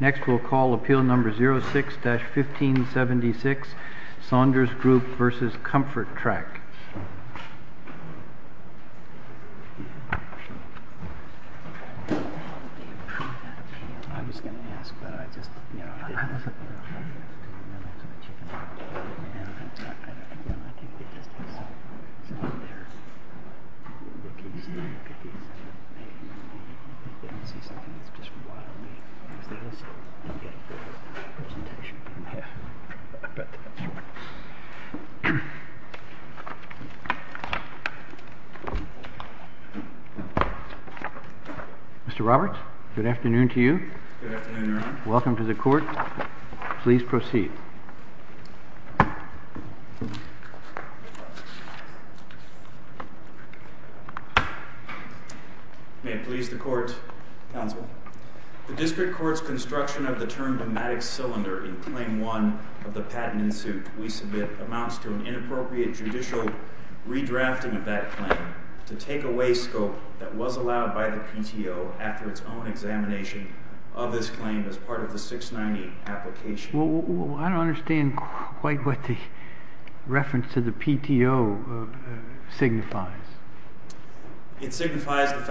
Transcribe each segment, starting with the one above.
Next we will call appeal number 06-1576 Saunders Group v. Comfortrac Mr. Roberts, good afternoon to you. Good afternoon, Your Honor. Welcome to the court. Please proceed. May it please the court, counsel, the district court's construction of the term pneumatic cylinder in claim 1 of the patent in suit we submit amounts to an inappropriate judicial redrafting of that claim to take away scope that was allowed by the PTO after its own examination of this claim as part of the 690 application. Well, I don't understand quite what the reference to the PTO signifies. It seems to me that the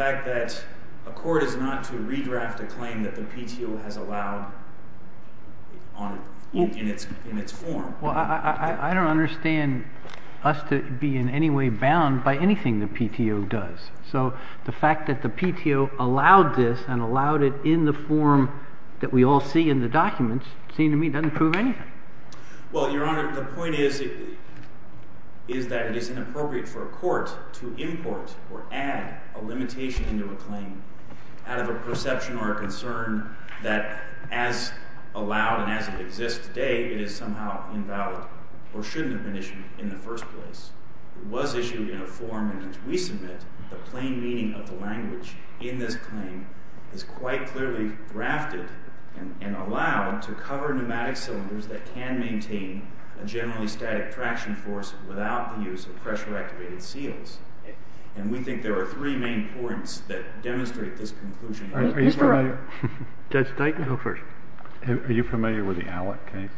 PTO has allowed in its form. Well, I don't understand us to be in any way bound by anything the PTO does. So the fact that the PTO allowed this and allowed it in the form that we all see in the documents seems to me doesn't prove anything. Well, Your Honor, the point is that it is inappropriate for a court to import or add a limitation into a claim out of a perception or a concern that as allowed and as it exists today, it is somehow invalid or shouldn't have been issued in the first place. It was issued in a form in which we submit the plain meaning of the language in this claim is quite clearly drafted and allowed to cover pneumatic cylinders that can maintain a generally static traction force without the use of pressure activated seals. And we think there are three main points that demonstrate this conclusion. Are you familiar with the Allick case?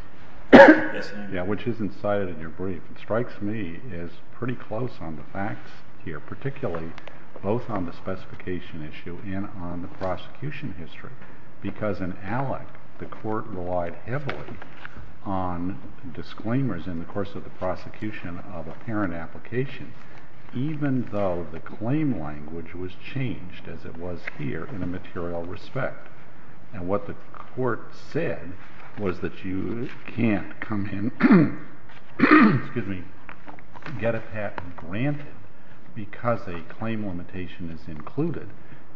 Yes, Your Honor. Yeah, which is incited in your brief. It strikes me as pretty close on the facts here, particularly both on the specification issue and on the prosecution history. Because in Allick, the court relied heavily on disclaimers in the course of the prosecution of a parent application, even though the claim language was changed as it was here in a material respect. And what the court said was that you can't come in, excuse me, get a patent granted because a claim limitation is included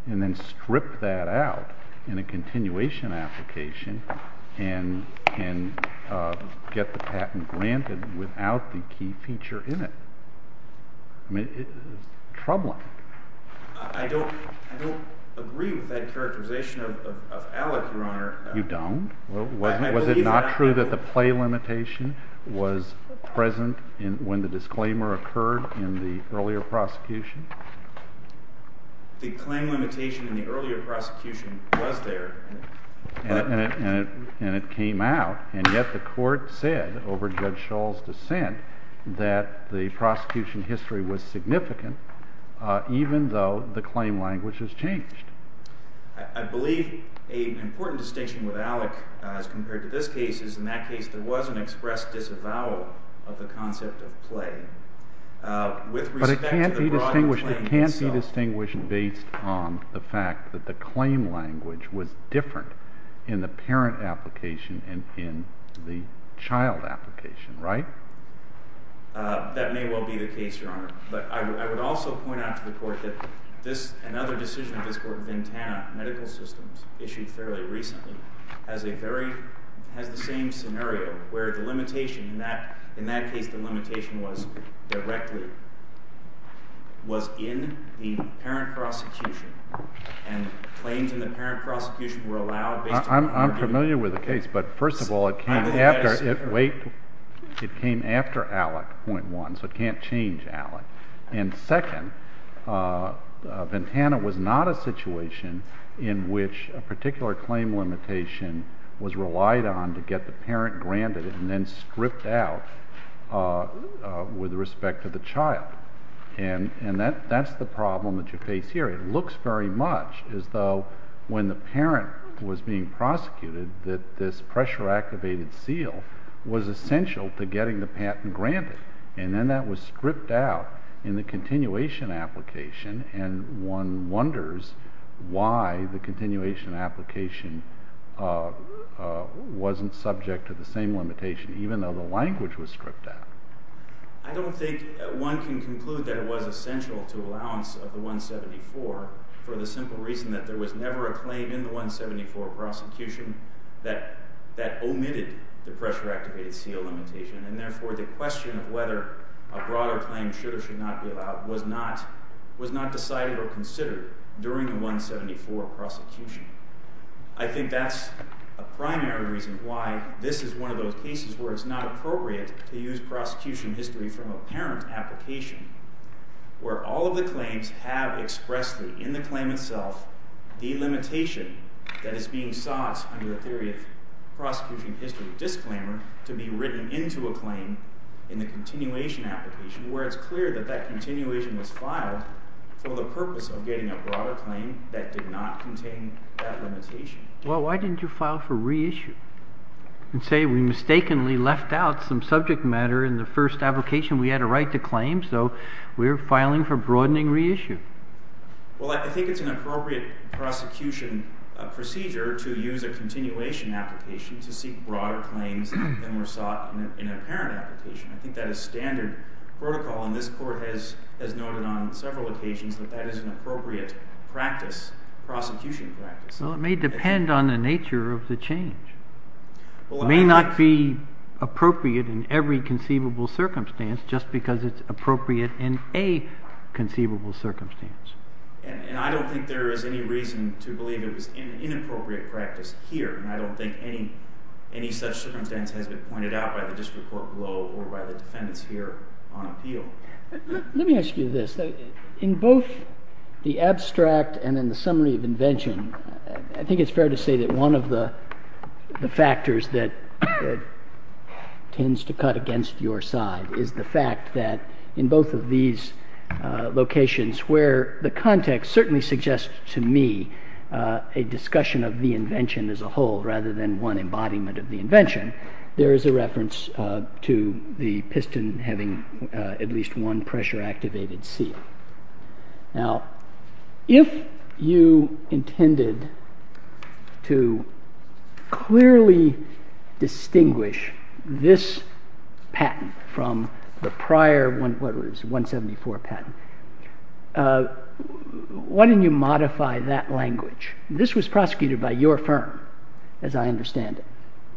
and then strip that out in a continuation application and get the patent granted without the key feature in it. I mean, troubling. I don't agree with that characterization of Allick, Your Honor. You don't? Was it not true that the play limitation was present when the disclaimer occurred in the earlier prosecution? The claim limitation in the earlier prosecution was there. And it came out. And yet the court said over Judge Shull's dissent that the prosecution history was significant, even though the claim language has changed. I believe an important distinction with Allick as compared to this case is in that case there was an express disavowal of the concept of play. But it can't be distinguished based on the fact that the claim language was different in the parent application and in the child application, right? That may well be the case, Your Honor. But I would also point out to the court that another decision of this court, Ventana Medical Systems, issued fairly recently, has the same scenario where the limitation, in that case the limitation was directly, was in the parent prosecution and claims in the parent prosecution were allowed based on the court's decision. I'm familiar with the case, but first of all, it came after Allick, point one, so it can't change Allick. And second, Ventana was not a situation in which a particular claim limitation was relied on to get the parent granted and then stripped out with respect to the child. And that's the problem that you face here. It looks very much as though when the parent was being prosecuted that this pressure activated seal was essential to getting the patent granted. And then that was stripped out in the continuation application, and one wonders why the continuation application wasn't subject to the same limitation, even though the language was stripped out. I don't think one can conclude that it was essential to allowance of the 174 for the simple reason that there was never a claim in the 174 prosecution that omitted the pressure activated seal limitation, and therefore the question of whether a broader claim should or should not be allowed was not decided or considered during the 174 prosecution. I think that's a primary reason why this is one of those cases where it's not appropriate to use prosecution history from a parent application where all of the claims have expressly in the claim itself the limitation that is being sought under the theory of prosecution history to be written into a claim in the continuation application, where it's clear that that continuation was filed for the purpose of getting a broader claim that did not contain that limitation. Well, why didn't you file for reissue and say we mistakenly left out some subject matter in the first application we had a right to claim, so we're filing for broadening reissue? Well, I think it's an appropriate prosecution procedure to use a continuation application to seek broader claims than were sought in a parent application. I think that is standard protocol, and this court has noted on several occasions that that is an appropriate prosecution practice. Well, it may depend on the nature of the change. It may not be appropriate in every conceivable circumstance just because it's appropriate in a conceivable circumstance. And I don't think there is any reason to believe it was an inappropriate practice here, and I don't think any such circumstance has been pointed out by the district court below or by the defendants here on appeal. Let me ask you this. In both the abstract and in the summary of invention, I think it's fair to say that one of the factors that tends to cut against your side is the fact that in both of these locations where the context certainly suggests to me a discussion of the invention as a whole rather than one embodiment of the invention, there is a reference to the piston having at least one pressure-activated seal. Now, if you intended to clearly distinguish this patent from the prior 174 patent, why didn't you modify that language? This was prosecuted by your firm, as I understand it.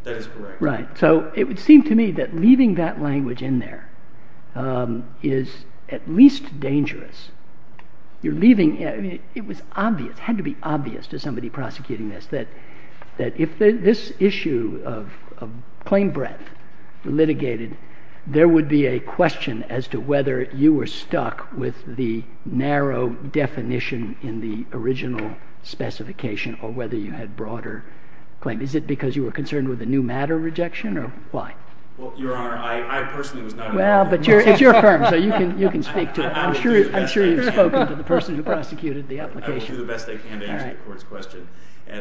That is correct. Right. So it would seem to me that leaving that language in there is at least dangerous. It had to be obvious to somebody prosecuting this that if this issue of claim breadth litigated, there would be a question as to whether you were stuck with the narrow definition in the original specification or whether you had broader claim. Is it because you were concerned with a new matter rejection, or why? Well, Your Honor, I personally was not involved in the process. Well, but it's your firm, so you can speak to it. I'm sure you've spoken to the person who prosecuted the application. I will do the best I can to answer your court's question.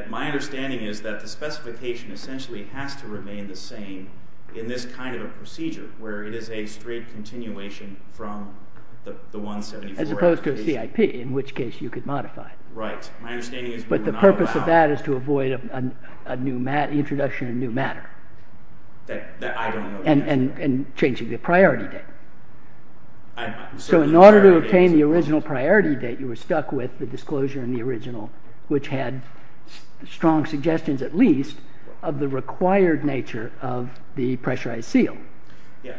My understanding is that the specification essentially has to remain the same in this kind of a procedure where it is a straight continuation from the 174 application. As opposed to a CIP, in which case you could modify it. Right. But the purpose of that is to avoid an introduction of a new matter and changing the priority date. So in order to obtain the original priority date, you were stuck with the disclosure in the original, which had strong suggestions, at least, of the required nature of the pressurized seal.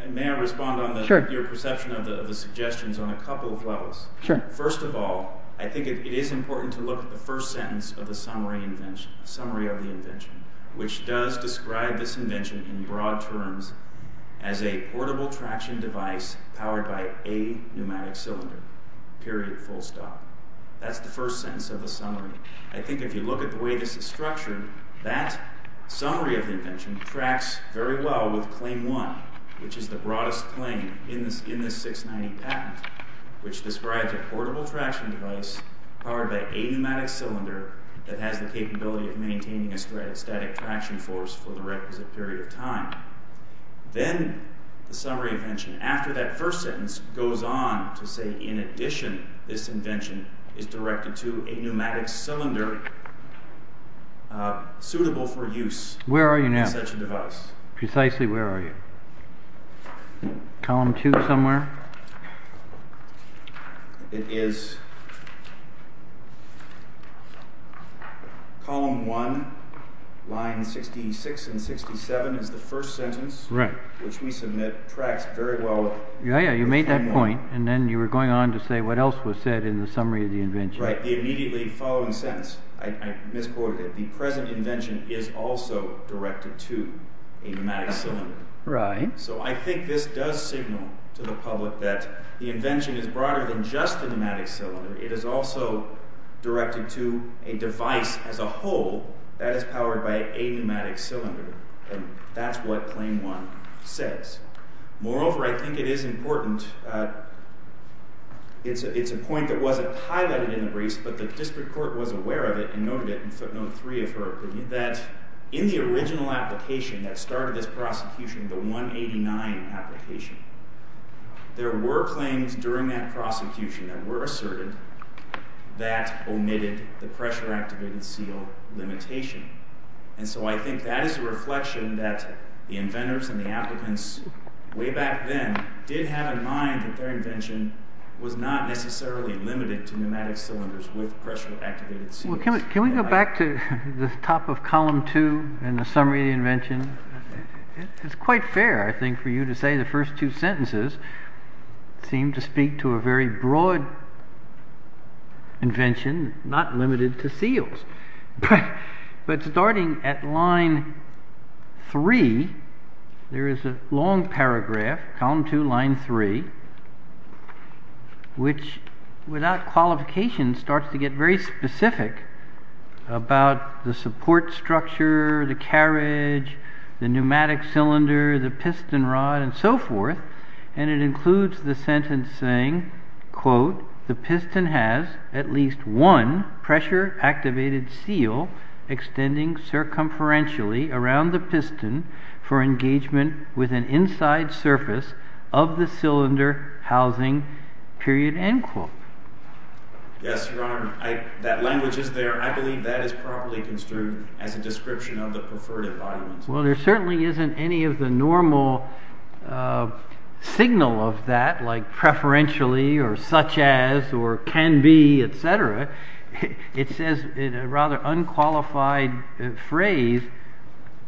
May I respond on your perception of the suggestions on a couple of levels? Sure. First of all, I think it is important to look at the first sentence of the summary of the invention, which does describe this invention in broad terms as a portable traction device powered by a pneumatic cylinder. Period. Full stop. That's the first sentence of the summary. I think if you look at the way this is structured, that summary of the invention tracks very well with Claim 1, which is the broadest claim in this 690 patent, which describes a portable traction device powered by a pneumatic cylinder that has the capability of maintaining a static traction force for the requisite period of time. Then the summary of the invention, after that first sentence, goes on to say, in addition, this invention is directed to a pneumatic cylinder suitable for use in such a device. Where are you now? Precisely where are you? Column 2 somewhere? Column 1, line 66 and 67 is the first sentence, which we submit tracks very well with Claim 1. Yeah, you made that point, and then you were going on to say what else was said in the summary of the invention. Right, the immediately following sentence. I misquoted it. The present invention is also directed to a pneumatic cylinder. Right. So I think this does signal to the public that the invention is broader than just a pneumatic cylinder. It is also directed to a device as a whole that is powered by a pneumatic cylinder. And that's what Claim 1 says. Moreover, I think it is important, it's a point that wasn't highlighted in the briefs, but the district court was aware of it and noted it in footnote 3 of her opinion, that in the original application that started this prosecution, the 189 application, there were claims during that prosecution that were asserted that omitted the pressure activated seal limitation. And so I think that is a reflection that the inventors and the applicants way back then did have in mind that their invention was not necessarily limited to pneumatic cylinders with pressure activated seals. Can we go back to the top of Column 2 and the summary of the invention? It's quite fair, I think, for you to say the first two sentences seem to speak to a very broad invention not limited to seals. But starting at line 3, there is a long paragraph, column 2, line 3, which without qualification starts to get very specific about the support structure, the carriage, the pneumatic cylinder, the piston rod and so forth. And it includes the sentence saying, quote, the piston has at least one pressure activated seal extending circumferentially around the piston for engagement with an inside surface of the cylinder housing, period, end quote. Yes, Your Honor, that language is there. I believe that is properly construed as a description of the preferred environment. Well, there certainly isn't any of the normal signal of that like preferentially or such as or can be, etc. It says in a rather unqualified phrase,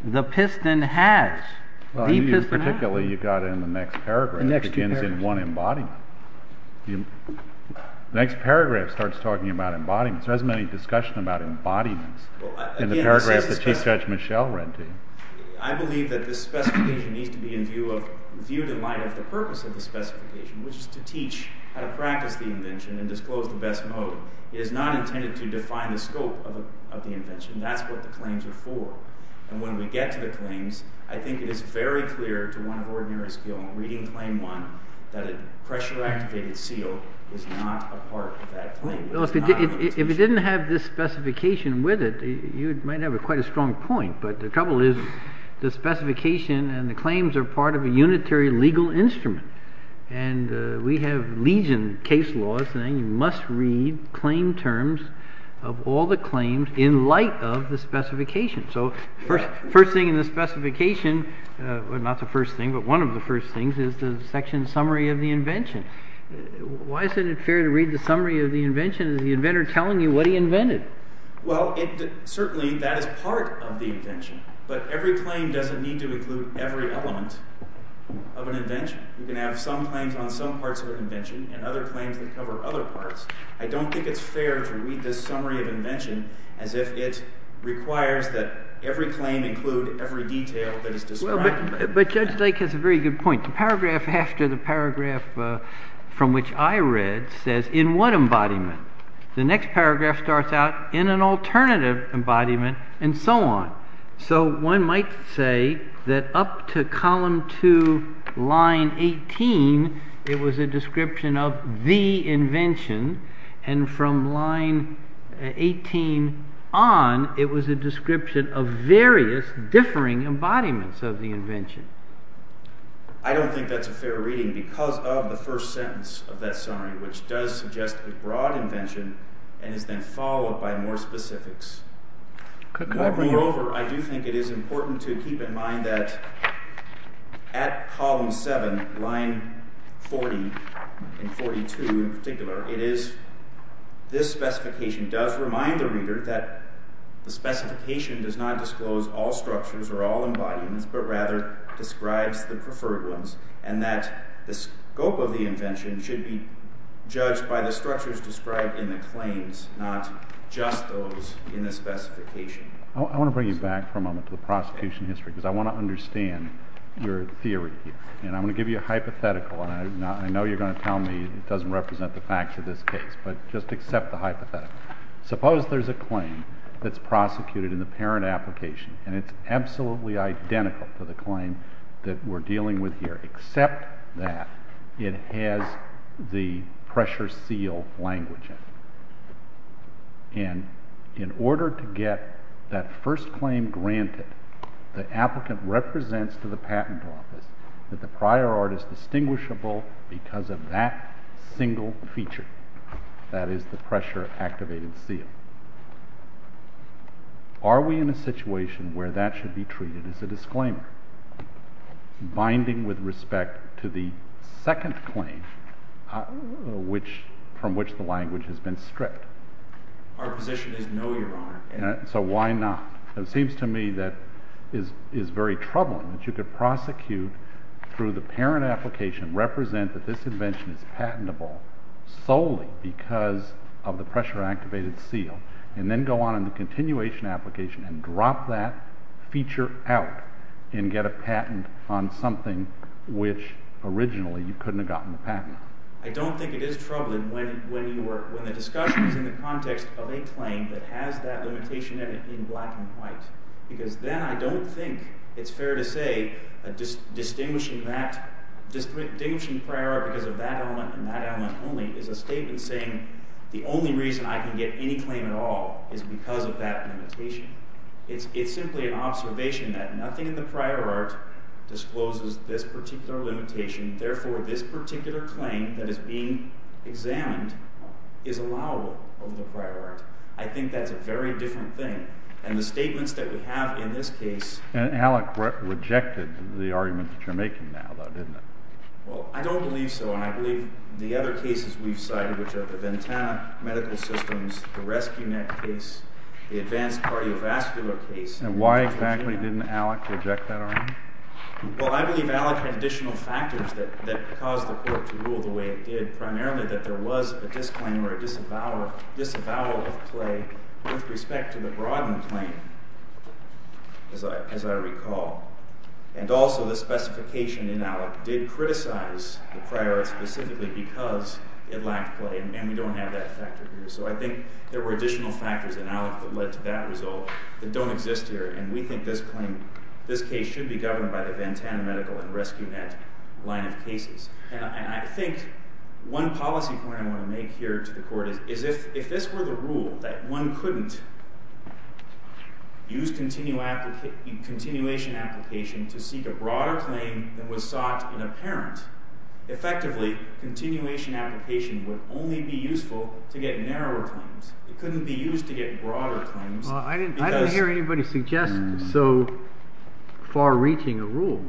the piston has, the piston has. Particularly you've got it in the next paragraph. The next two paragraphs. It begins in one embodiment. The next paragraph starts talking about embodiments. There isn't any discussion about embodiments in the paragraph that Chief Judge Michel read to you. I believe that this specification needs to be viewed in light of the purpose of the specification, which is to teach how to practice the invention and disclose the best mode. It is not intended to define the scope of the invention. That's what the claims are for. And when we get to the claims, I think it is very clear to one of ordinary skill in reading Claim 1 that a pressure activated seal is not a part of that claim. If it didn't have this specification with it, you might have quite a strong point. But the trouble is the specification and the claims are part of a unitary legal instrument. And we have legion case laws saying you must read claim terms of all the claims in light of the specification. So first thing in the specification, not the first thing, but one of the first things is the section summary of the invention. Why isn't it fair to read the summary of the invention? Is the inventor telling you what he invented? Well, certainly that is part of the invention. But every claim doesn't need to include every element of an invention. You can have some claims on some parts of an invention and other claims that cover other parts. I don't think it's fair to read this summary of invention as if it requires that every claim include every detail that is described. But Judge Lake has a very good point. The paragraph after the paragraph from which I read says in what embodiment. The next paragraph starts out in an alternative embodiment and so on. So one might say that up to column 2, line 18, it was a description of the invention. And from line 18 on, it was a description of various differing embodiments of the invention. I don't think that's a fair reading because of the first sentence of that summary, which does suggest a broad invention and is then followed by more specifics. Moreover, I do think it is important to keep in mind that at column 7, line 40 and 42 in particular, this specification does remind the reader that the specification does not disclose all structures or all embodiments, but rather describes the preferred ones and that the scope of the invention should be judged by the structures described in the claims, not just those in the specification. I want to bring you back for a moment to the prosecution history because I want to understand your theory. And I'm going to give you a hypothetical. I know you're going to tell me it doesn't represent the facts of this case, but just accept the hypothetical. Suppose there's a claim that's prosecuted in the parent application and it's absolutely identical to the claim that we're dealing with here, except that it has the pressure seal language in it. And in order to get that first claim granted, the applicant represents to the patent office that the prior art is distinguishable because of that single feature, that is the pressure activated seal. Are we in a situation where that should be treated as a disclaimer, binding with respect to the second claim from which the language has been stripped? Our position is no, Your Honor. So why not? It seems to me that it is very troubling that you could prosecute through the parent application, represent that this invention is patentable solely because of the pressure activated seal, and then go on in the continuation application and drop that feature out and get a patent on something which originally you couldn't have gotten the patent on. I don't think it is troubling when the discussion is in the context of a claim that has that limitation in it in black and white. Because then I don't think it's fair to say distinguishing the prior art because of that element and that element only is a statement saying the only reason I can get any claim at all is because of that limitation. It's simply an observation that nothing in the prior art discloses this particular limitation. Therefore, this particular claim that is being examined is allowable over the prior art. I think that's a very different thing. And the statements that we have in this case— And Alec rejected the argument that you're making now, though, didn't he? Well, I don't believe so. And I believe the other cases we've cited, which are the Ventana medical systems, the Rescue Net case, the advanced cardiovascular case— And why exactly didn't Alec reject that argument? Well, I believe Alec had additional factors that caused the court to rule the way it did, primarily that there was a disclaimer or a disavowal of play with respect to the Brodden claim, as I recall. And also the specification in Alec did criticize the prior art specifically because it lacked play. And we don't have that factor here. So I think there were additional factors in Alec that led to that result that don't exist here. And we think this case should be governed by the Ventana medical and Rescue Net line of cases. And I think one policy point I want to make here to the court is if this were the rule that one couldn't use continuation application to seek a broader claim than was sought in a parent, effectively, continuation application would only be useful to get narrower claims. It couldn't be used to get broader claims because— Well, I didn't hear anybody suggest so far-reaching a rule.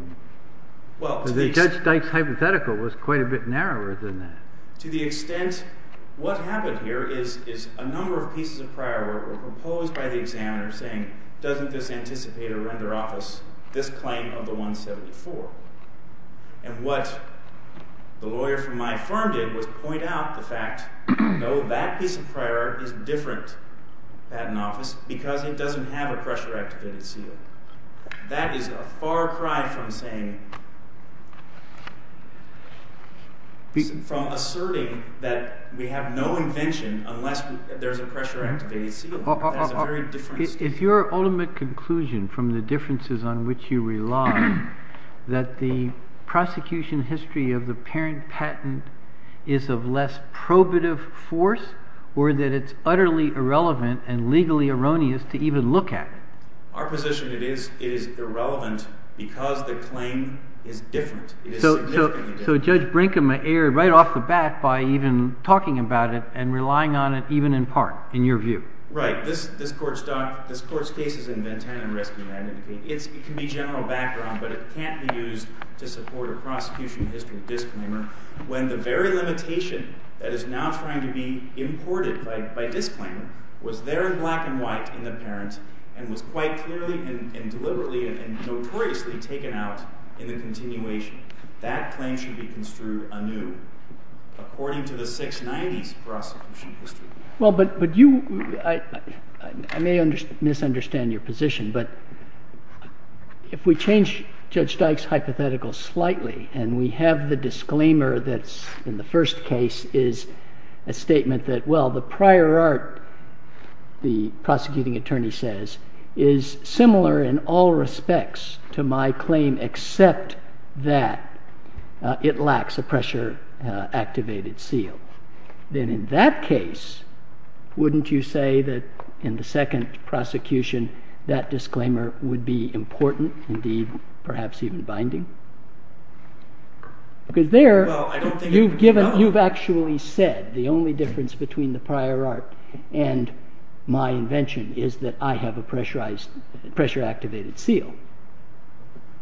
Well, to the extent— Judge Dyke's hypothetical was quite a bit narrower than that. To the extent what happened here is a number of pieces of prior work were proposed by the examiner saying, doesn't this anticipate or render office this claim of the 174? And what the lawyer from my firm did was point out the fact, no, that piece of prior art is different patent office because it doesn't have a pressure-activated seal. That is a far cry from saying, from asserting that we have no invention unless there's a pressure-activated seal. That's a very different statement. If your ultimate conclusion from the differences on which you rely, that the prosecution history of the parent patent is of less probative force, or that it's utterly irrelevant and legally erroneous to even look at? Our position is it is irrelevant because the claim is different. It is significantly different. So Judge Brinkman erred right off the bat by even talking about it and relying on it even in part, in your view. Right. This Court's case is in Ventana and Rescue. It can be general background, but it can't be used to support a prosecution history disclaimer when the very limitation that is now trying to be imported by disclaimer was there in black and white in the parent and was quite clearly and deliberately and notoriously taken out in the continuation. That claim should be construed anew according to the 690s prosecution history. Well, but you, I may misunderstand your position, but if we change Judge Dyke's hypothetical slightly and we have the disclaimer that's in the first case is a statement that, well, the prior art, the prosecuting attorney says, is similar in all respects to my claim except that it lacks a pressure-activated seal, then in that case, wouldn't you say that in the second prosecution, that disclaimer would be important, indeed, perhaps even binding? Because there, you've actually said the only difference between the prior art and my invention is that I have a pressure-activated seal.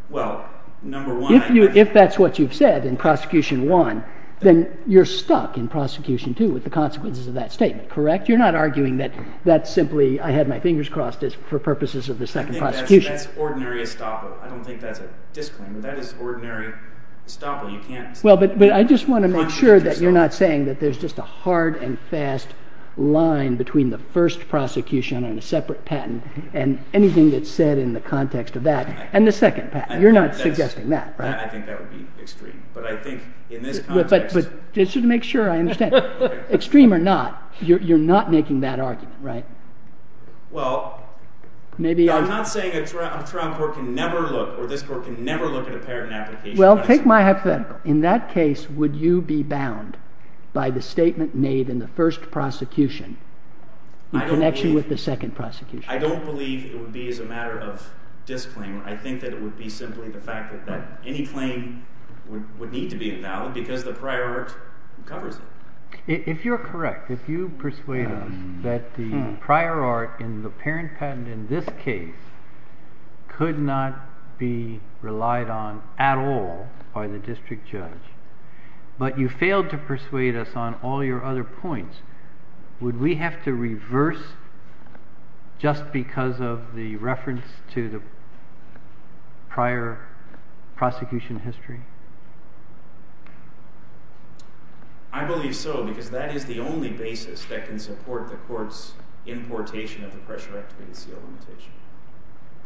Well, number one… If that's what you've said in prosecution one, then you're stuck in prosecution two with the consequences of that statement, correct? You're not arguing that that's simply, I had my fingers crossed for purposes of the second prosecution. That's ordinary estoppel. I don't think that's a disclaimer. That is ordinary estoppel. Well, but I just want to make sure that you're not saying that there's just a hard and fast line between the first prosecution and a separate patent and anything that's said in the context of that and the second patent. You're not suggesting that, right? I think that would be extreme, but I think in this context… Just to make sure I understand, extreme or not, you're not making that argument, right? Well, I'm not saying a trial court can never look, or this court can never look at a patent application… Well, take my hypothetical. In that case, would you be bound by the statement made in the first prosecution in connection with the second prosecution? I don't believe it would be as a matter of disclaimer. I think that it would be simply the fact that any claim would need to be invalid because the prior art covers it. If you're correct, if you persuade us that the prior art in the parent patent in this case could not be relied on at all by the district judge, but you failed to persuade us on all your other points, would we have to reverse just because of the reference to the prior prosecution history? I believe so because that is the only basis that can support the court's importation of the pressure-activated seal limitation.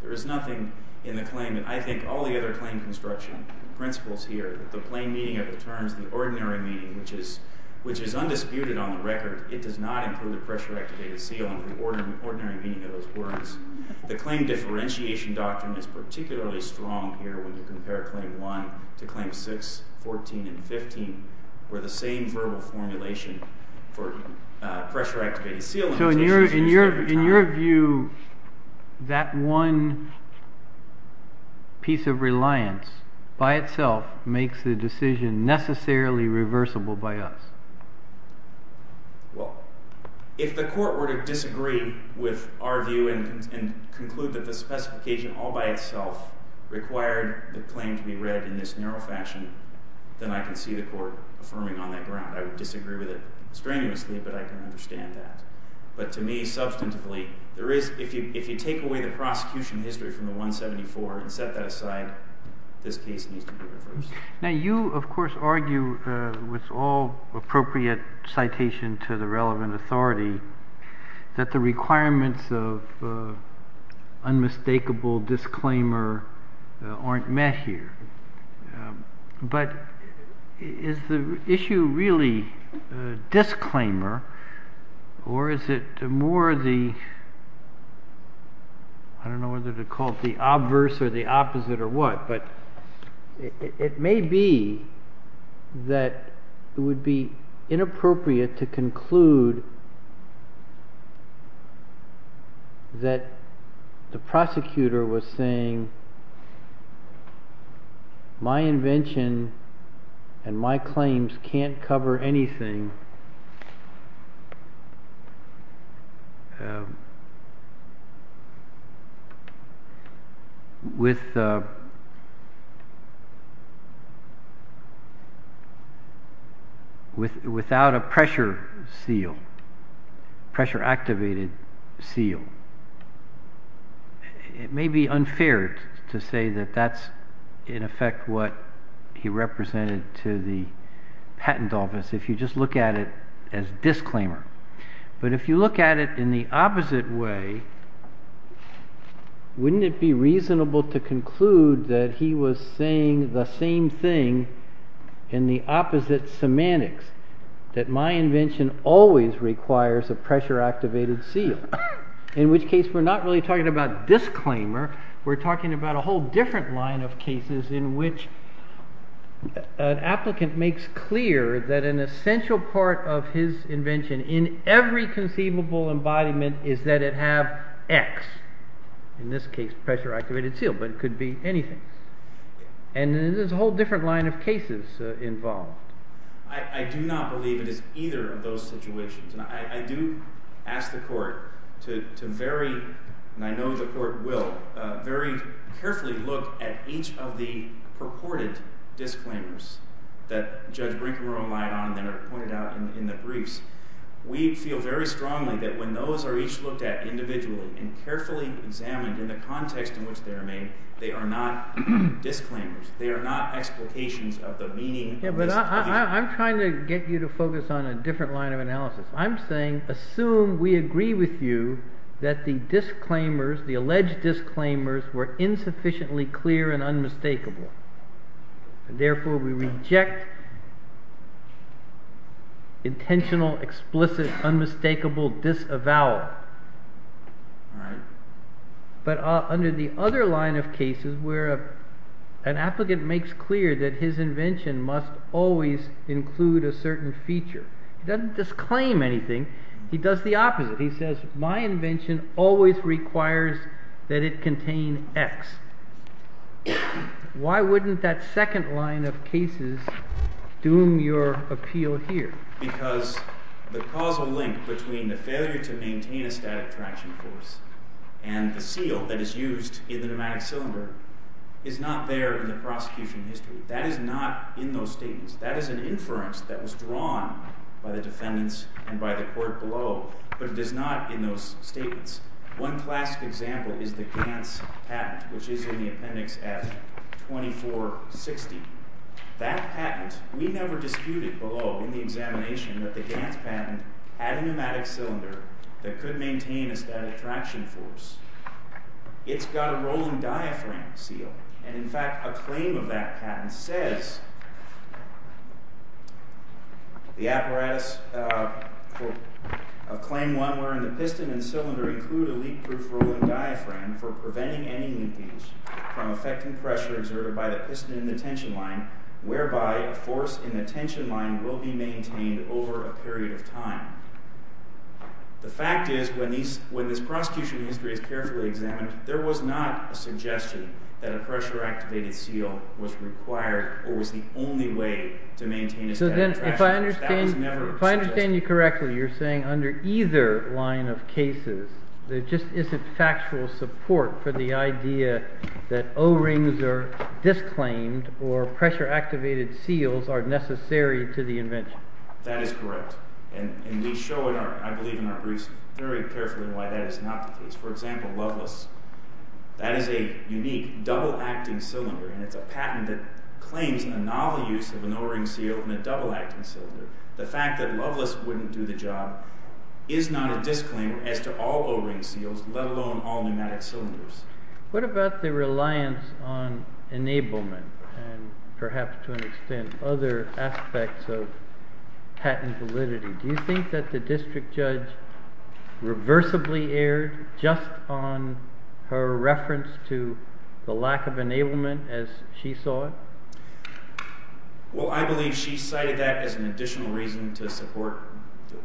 There is nothing in the claim, and I think all the other claim construction principles here, the plain meaning of the terms, the ordinary meaning, which is undisputed on the record, it does not include the pressure-activated seal and the ordinary meaning of those words. The claim differentiation doctrine is particularly strong here when you compare Claim 1 to Claim 6, 14, and 15, where the same verbal formulation for pressure-activated seal limitations is used every time. So in your view, that one piece of reliance by itself makes the decision necessarily reversible by us? Well, if the court were to disagree with our view and conclude that the specification all by itself required the claim to be read in this narrow fashion, then I can see the court affirming on that ground. I would disagree with it strenuously, but I can understand that. But to me, substantively, if you take away the prosecution history from the 174 and set that aside, this case needs to be reversed. Now you, of course, argue with all appropriate citation to the relevant authority that the requirements of unmistakable disclaimer aren't met here. But is the issue really disclaimer, or is it more the, I don't know whether to call it the obverse or the opposite or what, but it may be that it would be inappropriate to conclude that the prosecutor was saying, my invention and my claims can't cover anything without a pressure seal, pressure-activated seal. It may be unfair to say that that's in effect what he represented to the patent office if you just look at it as disclaimer. But if you look at it in the opposite way, wouldn't it be reasonable to conclude that he was saying the same thing in the opposite semantics, that my invention always requires a pressure-activated seal, in which case we're not really talking about disclaimer, we're talking about a whole different line of cases in which an applicant makes clear that an essential part of his invention in every conceivable embodiment is that it have X, in this case pressure-activated seal, but it could be anything. And there's a whole different line of cases involved. I do not believe it is either of those situations. And I do ask the Court to very, and I know the Court will, very carefully look at each of the purported disclaimers that Judge Brinkman relied on that are pointed out in the briefs. We feel very strongly that when those are each looked at individually and carefully examined in the context in which they are made, they are not disclaimers. Yeah, but I'm trying to get you to focus on a different line of analysis. I'm saying assume we agree with you that the disclaimers, the alleged disclaimers, were insufficiently clear and unmistakable. Therefore, we reject intentional, explicit, unmistakable disavowal. But under the other line of cases where an applicant makes clear that his invention must always include a certain feature, he doesn't disclaim anything, he does the opposite. He says my invention always requires that it contain X. Why wouldn't that second line of cases doom your appeal here? Because the causal link between the failure to maintain a static traction force and the seal that is used in the pneumatic cylinder is not there in the prosecution history. That is not in those statements. That is an inference that was drawn by the defendants and by the Court below, but it is not in those statements. One classic example is the Gantz patent, which is in the appendix at 2460. That patent, we never disputed below in the examination that the Gantz patent had a pneumatic cylinder that could maintain a static traction force. It's got a rolling diaphragm seal, and in fact a claim of that patent says, The apparatus of claim one wherein the piston and cylinder include a leak-proof rolling diaphragm for preventing any leakage from effecting pressure exerted by the piston in the tension line, whereby a force in the tension line will be maintained over a period of time. The fact is when this prosecution history is carefully examined, there was not a suggestion that a pressure-activated seal was required or was the only way to maintain a static traction force. If I understand you correctly, you're saying under either line of cases, there just isn't factual support for the idea that O-rings are disclaimed or pressure-activated seals are necessary to the invention. That is correct, and we show in our briefs very carefully why that is not the case. For example, Loveless, that is a unique double-acting cylinder, and it's a patent that claims a novel use of an O-ring seal and a double-acting cylinder. The fact that Loveless wouldn't do the job is not a disclaimer as to all O-ring seals, let alone all pneumatic cylinders. What about the reliance on enablement, and perhaps to an extent other aspects of patent validity? Do you think that the district judge reversibly erred just on her reference to the lack of enablement as she saw it? Well, I believe she cited that as an additional reason to support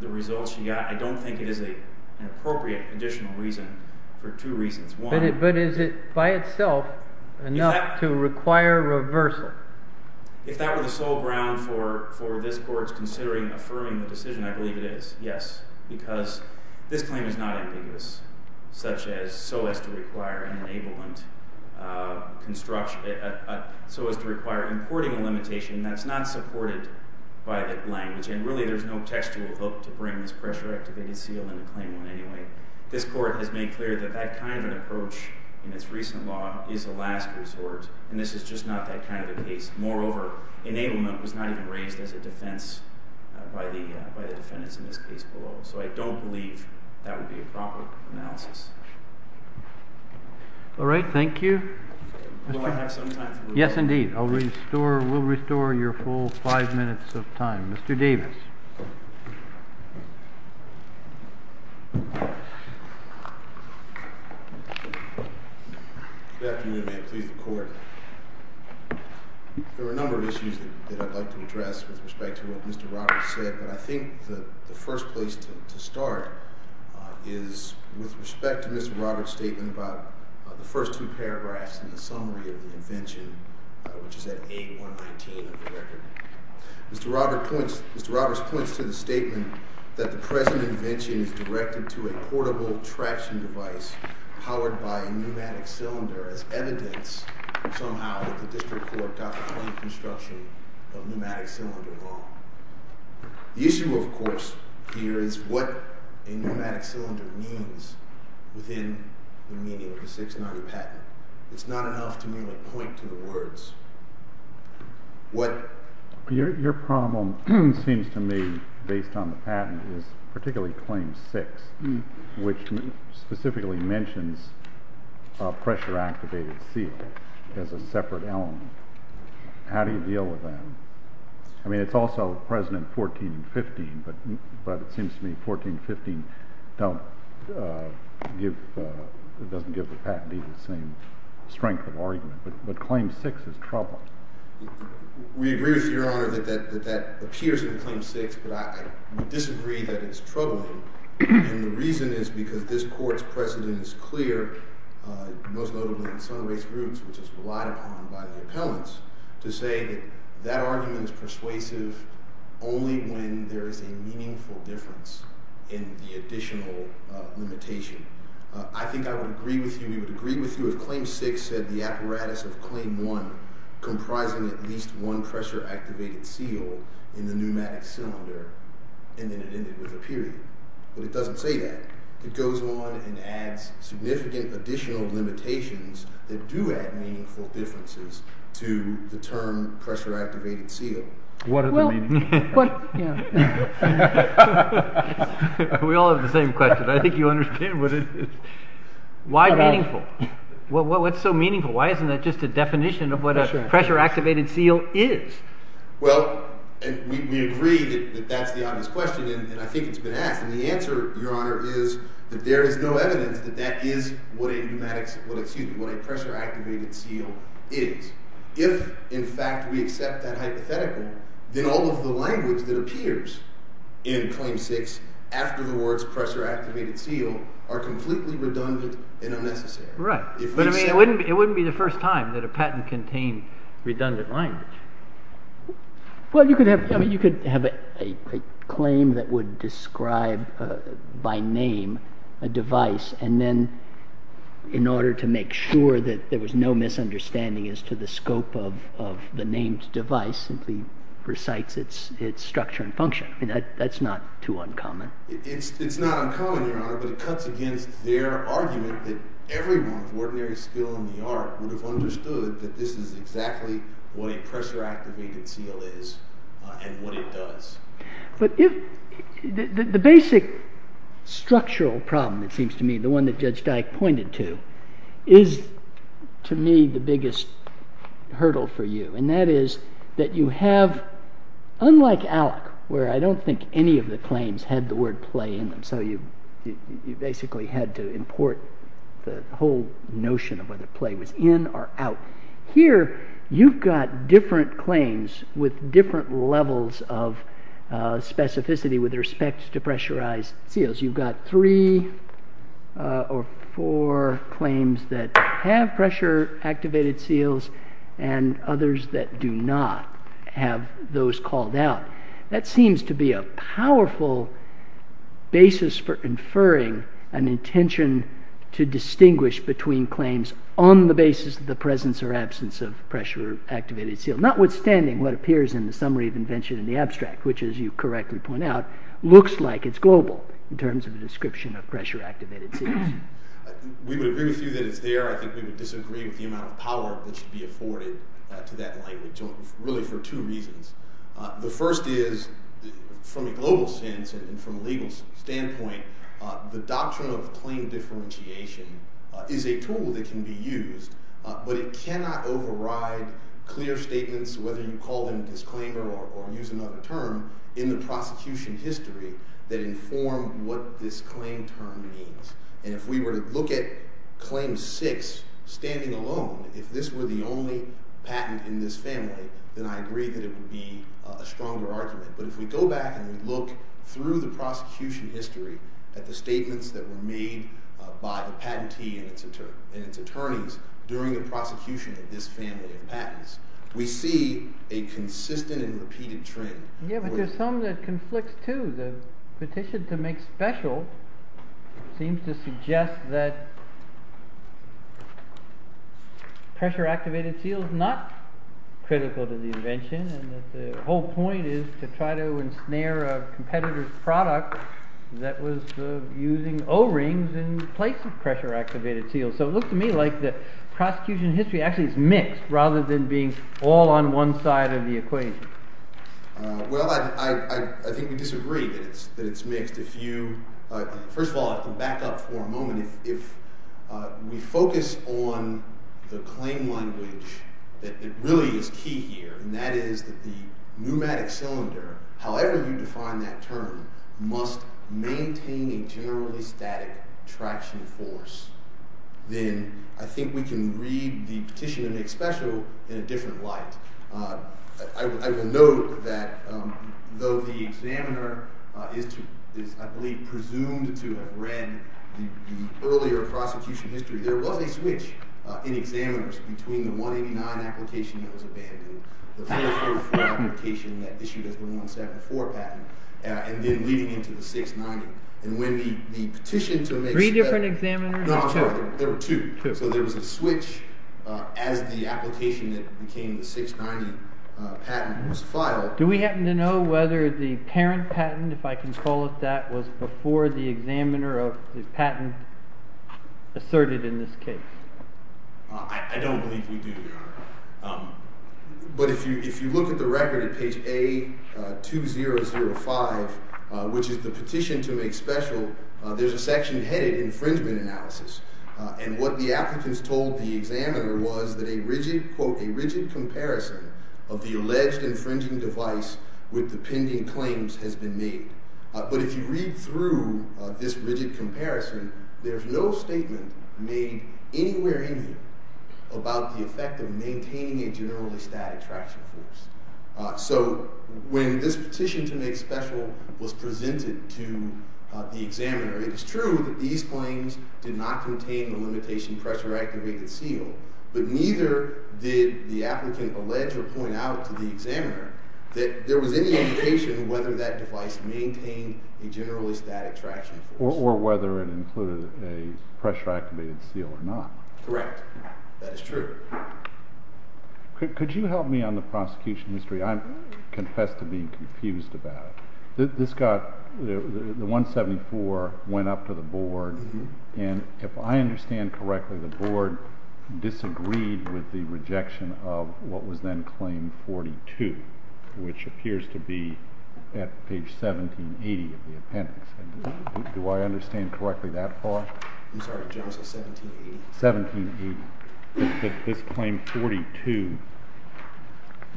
the results she got. I don't think it is an appropriate additional reason for two reasons. But is it by itself enough to require reversal? If that were the sole ground for this Court's considering affirming the decision, I believe it is, yes. Because this claim is not ambiguous, such as so as to require an enablement, so as to require importing a limitation that's not supported by the language. And really there's no textual hook to bring this pressure-activated seal into Claim 1 anyway. This Court has made clear that that kind of an approach in its recent law is a last resort. And this is just not that kind of a case. Moreover, enablement was not even raised as a defense by the defendants in this case below. So I don't believe that would be a proper analysis. All right. Thank you. Will I have some time for questions? Yes, indeed. We'll restore your full five minutes of time. Mr. Davis. Good afternoon, and may it please the Court. There are a number of issues that I'd like to address with respect to what Mr. Roberts said. But I think the first place to start is with respect to Mr. Roberts' statement about the first two paragraphs in the summary of the invention, which is at A119 of the record. Mr. Roberts points to the statement that the present invention is directed to a portable traction device powered by a pneumatic cylinder as evidence, somehow, that the District Court got the clean construction of pneumatic cylinder wrong. The issue, of course, here is what a pneumatic cylinder means within the meaning of the 690 patent. It's not enough to merely point to the words. Your problem seems to me, based on the patent, is particularly Claim 6, which specifically mentions a pressure-activated seal as a separate element. How do you deal with that? I mean, it's also present in 1415, but it seems to me 1415 doesn't give the patent even the same strength of argument. But Claim 6 is troubling. We agree with Your Honor that that appears in Claim 6, but I disagree that it's troubling. And the reason is because this Court's precedent is clear, most notably in some race groups, which is relied upon by the appellants, to say that that argument is persuasive only when there is a meaningful difference in the additional limitation. I think I would agree with you. We would agree with you if Claim 6 said the apparatus of Claim 1 comprising at least one pressure-activated seal in the pneumatic cylinder, and then it ended with a period. But it doesn't say that. It goes on and adds significant additional limitations that do add meaningful differences to the term pressure-activated seal. What are the meaning? We all have the same question. I think you understand what it is. Why meaningful? What's so meaningful? Why isn't that just a definition of what a pressure-activated seal is? Well, we agree that that's the obvious question, and I think it's been asked. And the answer, Your Honor, is that there is no evidence that that is what a pressure-activated seal is. If, in fact, we accept that hypothetical, then all of the language that appears in Claim 6 after the words pressure-activated seal are completely redundant and unnecessary. Right. But, I mean, it wouldn't be the first time that a patent contained redundant language. Well, you could have a claim that would describe, by name, a device, and then, in order to make sure that there was no misunderstanding as to the scope of the named device, simply recites its structure and function. That's not too uncommon. It's not uncommon, Your Honor, but it cuts against their argument that everyone with ordinary skill in the art would have understood that this is exactly what a pressure-activated seal is and what it does. But the basic structural problem, it seems to me, the one that Judge Dyke pointed to, is, to me, the biggest hurdle for you. And that is that you have, unlike ALEC, where I don't think any of the claims had the word play in them, so you basically had to import the whole notion of whether play was in or out. Here, you've got different claims with different levels of specificity with respect to pressurized seals. You've got three or four claims that have pressure-activated seals and others that do not have those called out. That seems to be a powerful basis for inferring an intention to distinguish between claims on the basis of the presence or absence of pressure-activated seals, notwithstanding what appears in the Summary of Invention in the Abstract, which, as you correctly point out, looks like it's global in terms of the description of pressure-activated seals. We would agree with you that it's there. I think we would disagree with the amount of power that should be afforded to that language, really for two reasons. The first is, from a global sense and from a legal standpoint, the doctrine of claim differentiation is a tool that can be used, but it cannot override clear statements, whether you call them disclaimer or use another term, in the prosecution history that inform what this claim term means. And if we were to look at Claim 6 standing alone, if this were the only patent in this family, then I agree that it would be a stronger argument. But if we go back and look through the prosecution history, at the statements that were made by the patentee and its attorneys during the prosecution of this family of patents, we see a consistent and repeated trend. Yeah, but there's some that conflicts too. The petition to make special seems to suggest that pressure-activated seals are not critical to the invention, and that the whole point is to try to ensnare a competitor's product that was using O-rings in place of pressure-activated seals. So it looks to me like the prosecution history actually is mixed rather than being all on one side of the equation. Well, I think we disagree that it's mixed. First of all, to back up for a moment, if we focus on the claim language that really is key here, and that is that the pneumatic cylinder, however you define that term, must maintain a generally static traction force, then I think we can read the petition to make special in a different light. I will note that though the examiner is, I believe, presumed to have read the earlier prosecution history, there was a switch in examiners between the 189 application that was abandoned, the 434 application that issued as the 174 patent, and then leading into the 690. And when the petition to make special— Three different examiners? No, there were two. So there was a switch as the application that became the 690 patent was filed. Do we happen to know whether the parent patent, if I can call it that, was before the examiner of the patent asserted in this case? I don't believe we do, Your Honor. But if you look at the record at page A2005, which is the petition to make special, there's a section headed infringement analysis. And what the applicants told the examiner was that a rigid, quote, a rigid comparison of the alleged infringing device with the pending claims has been made. But if you read through this rigid comparison, there's no statement made anywhere in here about the effect of maintaining a generally static traction force. So when this petition to make special was presented to the examiner, it is true that these claims did not contain the limitation pressure activated seal, but neither did the applicant allege or point out to the examiner that there was any indication as to whether that device maintained a generally static traction force. Or whether it included a pressure activated seal or not. Correct. That is true. Could you help me on the prosecution history? I confess to being confused about it. The 174 went up to the board, and if I understand correctly, the board disagreed with the rejection of what was then claim 42, which appears to be at page 1780 of the appendix. Do I understand correctly that far? I'm sorry. 1780? 1780. This claim 42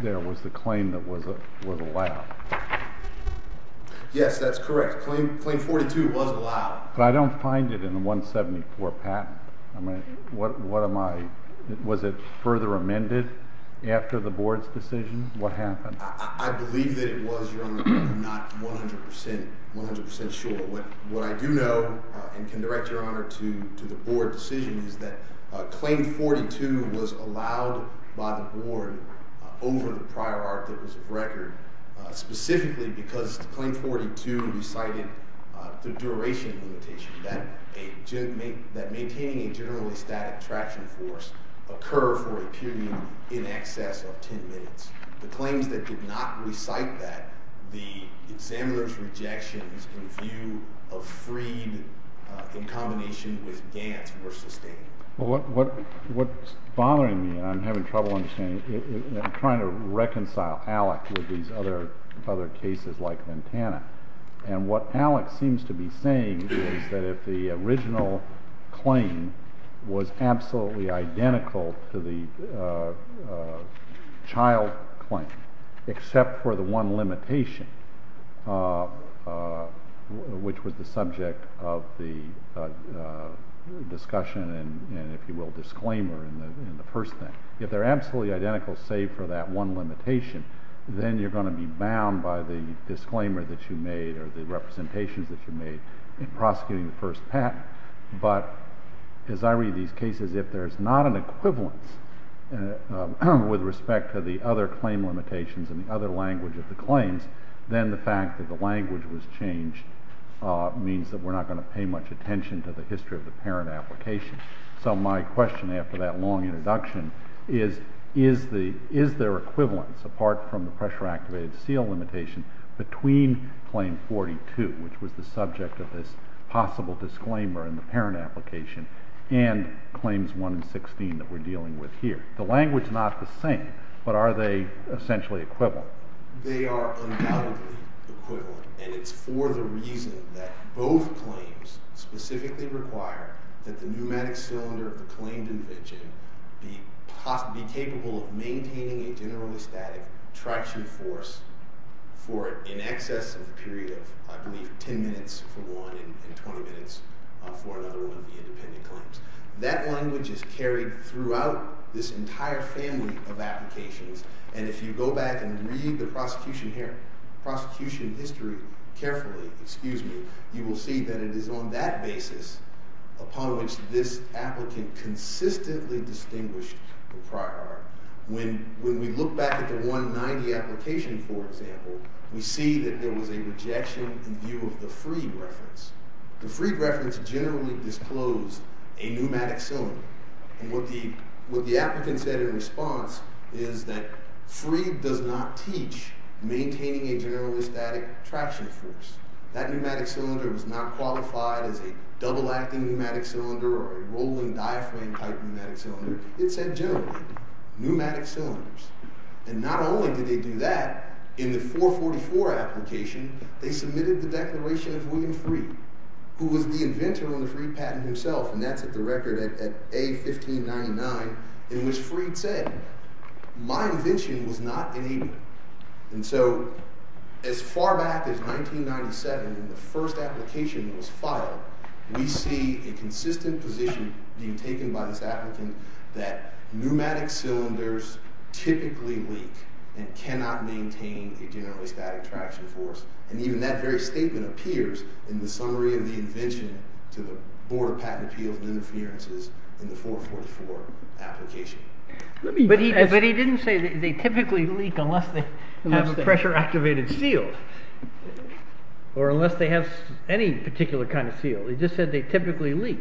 there was the claim that was allowed. Yes, that's correct. Claim 42 was allowed. But I don't find it in the 174 patent. Was it further amended after the board's decision? What happened? I believe that it was, Your Honor, but I'm not 100% sure. What I do know and can direct, Your Honor, to the board's decision is that claim 42 was allowed by the board over the prior art that was of record specifically because claim 42 recited the duration limitation. That maintaining a generally static traction force occur for a period in excess of 10 minutes. The claims that did not recite that, the examiner's rejections in view of freed in combination with dance were sustained. What's bothering me, and I'm having trouble understanding, I'm trying to reconcile Alec with these other cases like Montana. And what Alec seems to be saying is that if the original claim was absolutely identical to the child claim except for the one limitation, which was the subject of the discussion and, if you will, disclaimer in the first thing, if they're absolutely identical save for that one limitation, then you're going to be bound by the disclaimer that you made or the representations that you made in prosecuting the first patent. But as I read these cases, if there's not an equivalence with respect to the other claim limitations and the other language of the claims, then the fact that the language was changed means that we're not going to pay much attention to the history of the parent application. So my question after that long introduction is, is there equivalence apart from the pressure-activated seal limitation between Claim 42, which was the subject of this possible disclaimer in the parent application, and Claims 1 and 16 that we're dealing with here? The language is not the same, but are they essentially equivalent? They are undoubtedly equivalent, and it's for the reason that both claims specifically require that the pneumatic cylinder of the claimed invention be capable of maintaining a generally static traction force for in excess of a period of, I believe, 10 minutes for one and 20 minutes for another one of the independent claims. That language is carried throughout this entire family of applications, and if you go back and read the prosecution history carefully, you will see that it is on that basis upon which this applicant consistently distinguished the prior. When we look back at the 190 application, for example, we see that there was a rejection in view of the Freed reference. The Freed reference generally disclosed a pneumatic cylinder, and what the applicant said in response is that Freed does not teach maintaining a generally static traction force. That pneumatic cylinder was not qualified as a double-acting pneumatic cylinder or a rolling diaphragm-type pneumatic cylinder. It said generally pneumatic cylinders, and not only did they do that, in the 444 application, they submitted the declaration of William Freed, who was the inventor of the Freed patent himself, and that's at the record at A1599, in which Freed said, my invention was not enabling. And so as far back as 1997, when the first application was filed, we see a consistent position being taken by this applicant that pneumatic cylinders typically leak and cannot maintain a generally static traction force, and even that very statement appears in the summary of the invention to the Board of Patent Appeals and Interferences in the 444 application. But he didn't say they typically leak unless they have a pressure-activated seal or unless they have any particular kind of seal. He just said they typically leak.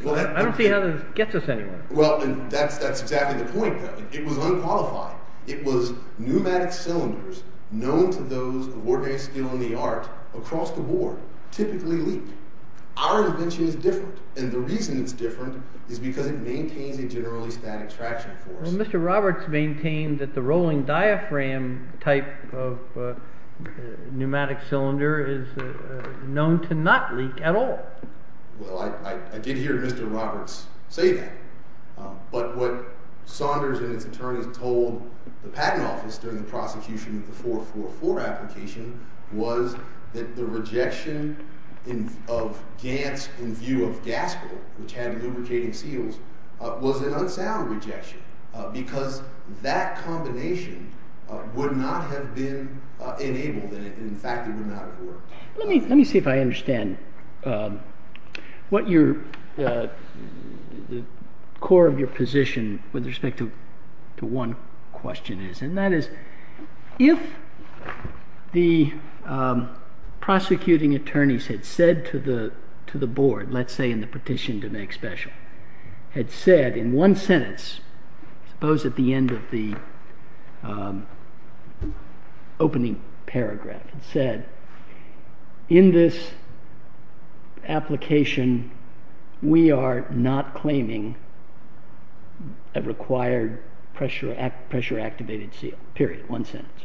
I don't see how that gets us anywhere. Well, that's exactly the point. It was unqualified. It was pneumatic cylinders known to those of ordinary skill in the art across the board typically leak. Our invention is different, and the reason it's different is because it maintains a generally static traction force. Well, Mr. Roberts maintained that the rolling diaphragm type of pneumatic cylinder is known to not leak at all. Well, I did hear Mr. Roberts say that. But what Saunders and his attorneys told the Patent Office during the prosecution of the 444 application was that the rejection of Gantz in view of Gaskell, which had lubricating seals, was an unsound rejection because that combination would not have been enabled and, in fact, it would not have worked. Let me see if I understand what the core of your position with respect to one question is, and that is if the prosecuting attorneys had said to the board, let's say in the petition to make special, had said in one sentence, I suppose at the end of the opening paragraph, had said, in this application, we are not claiming a required pressure-activated seal. Period. One sentence.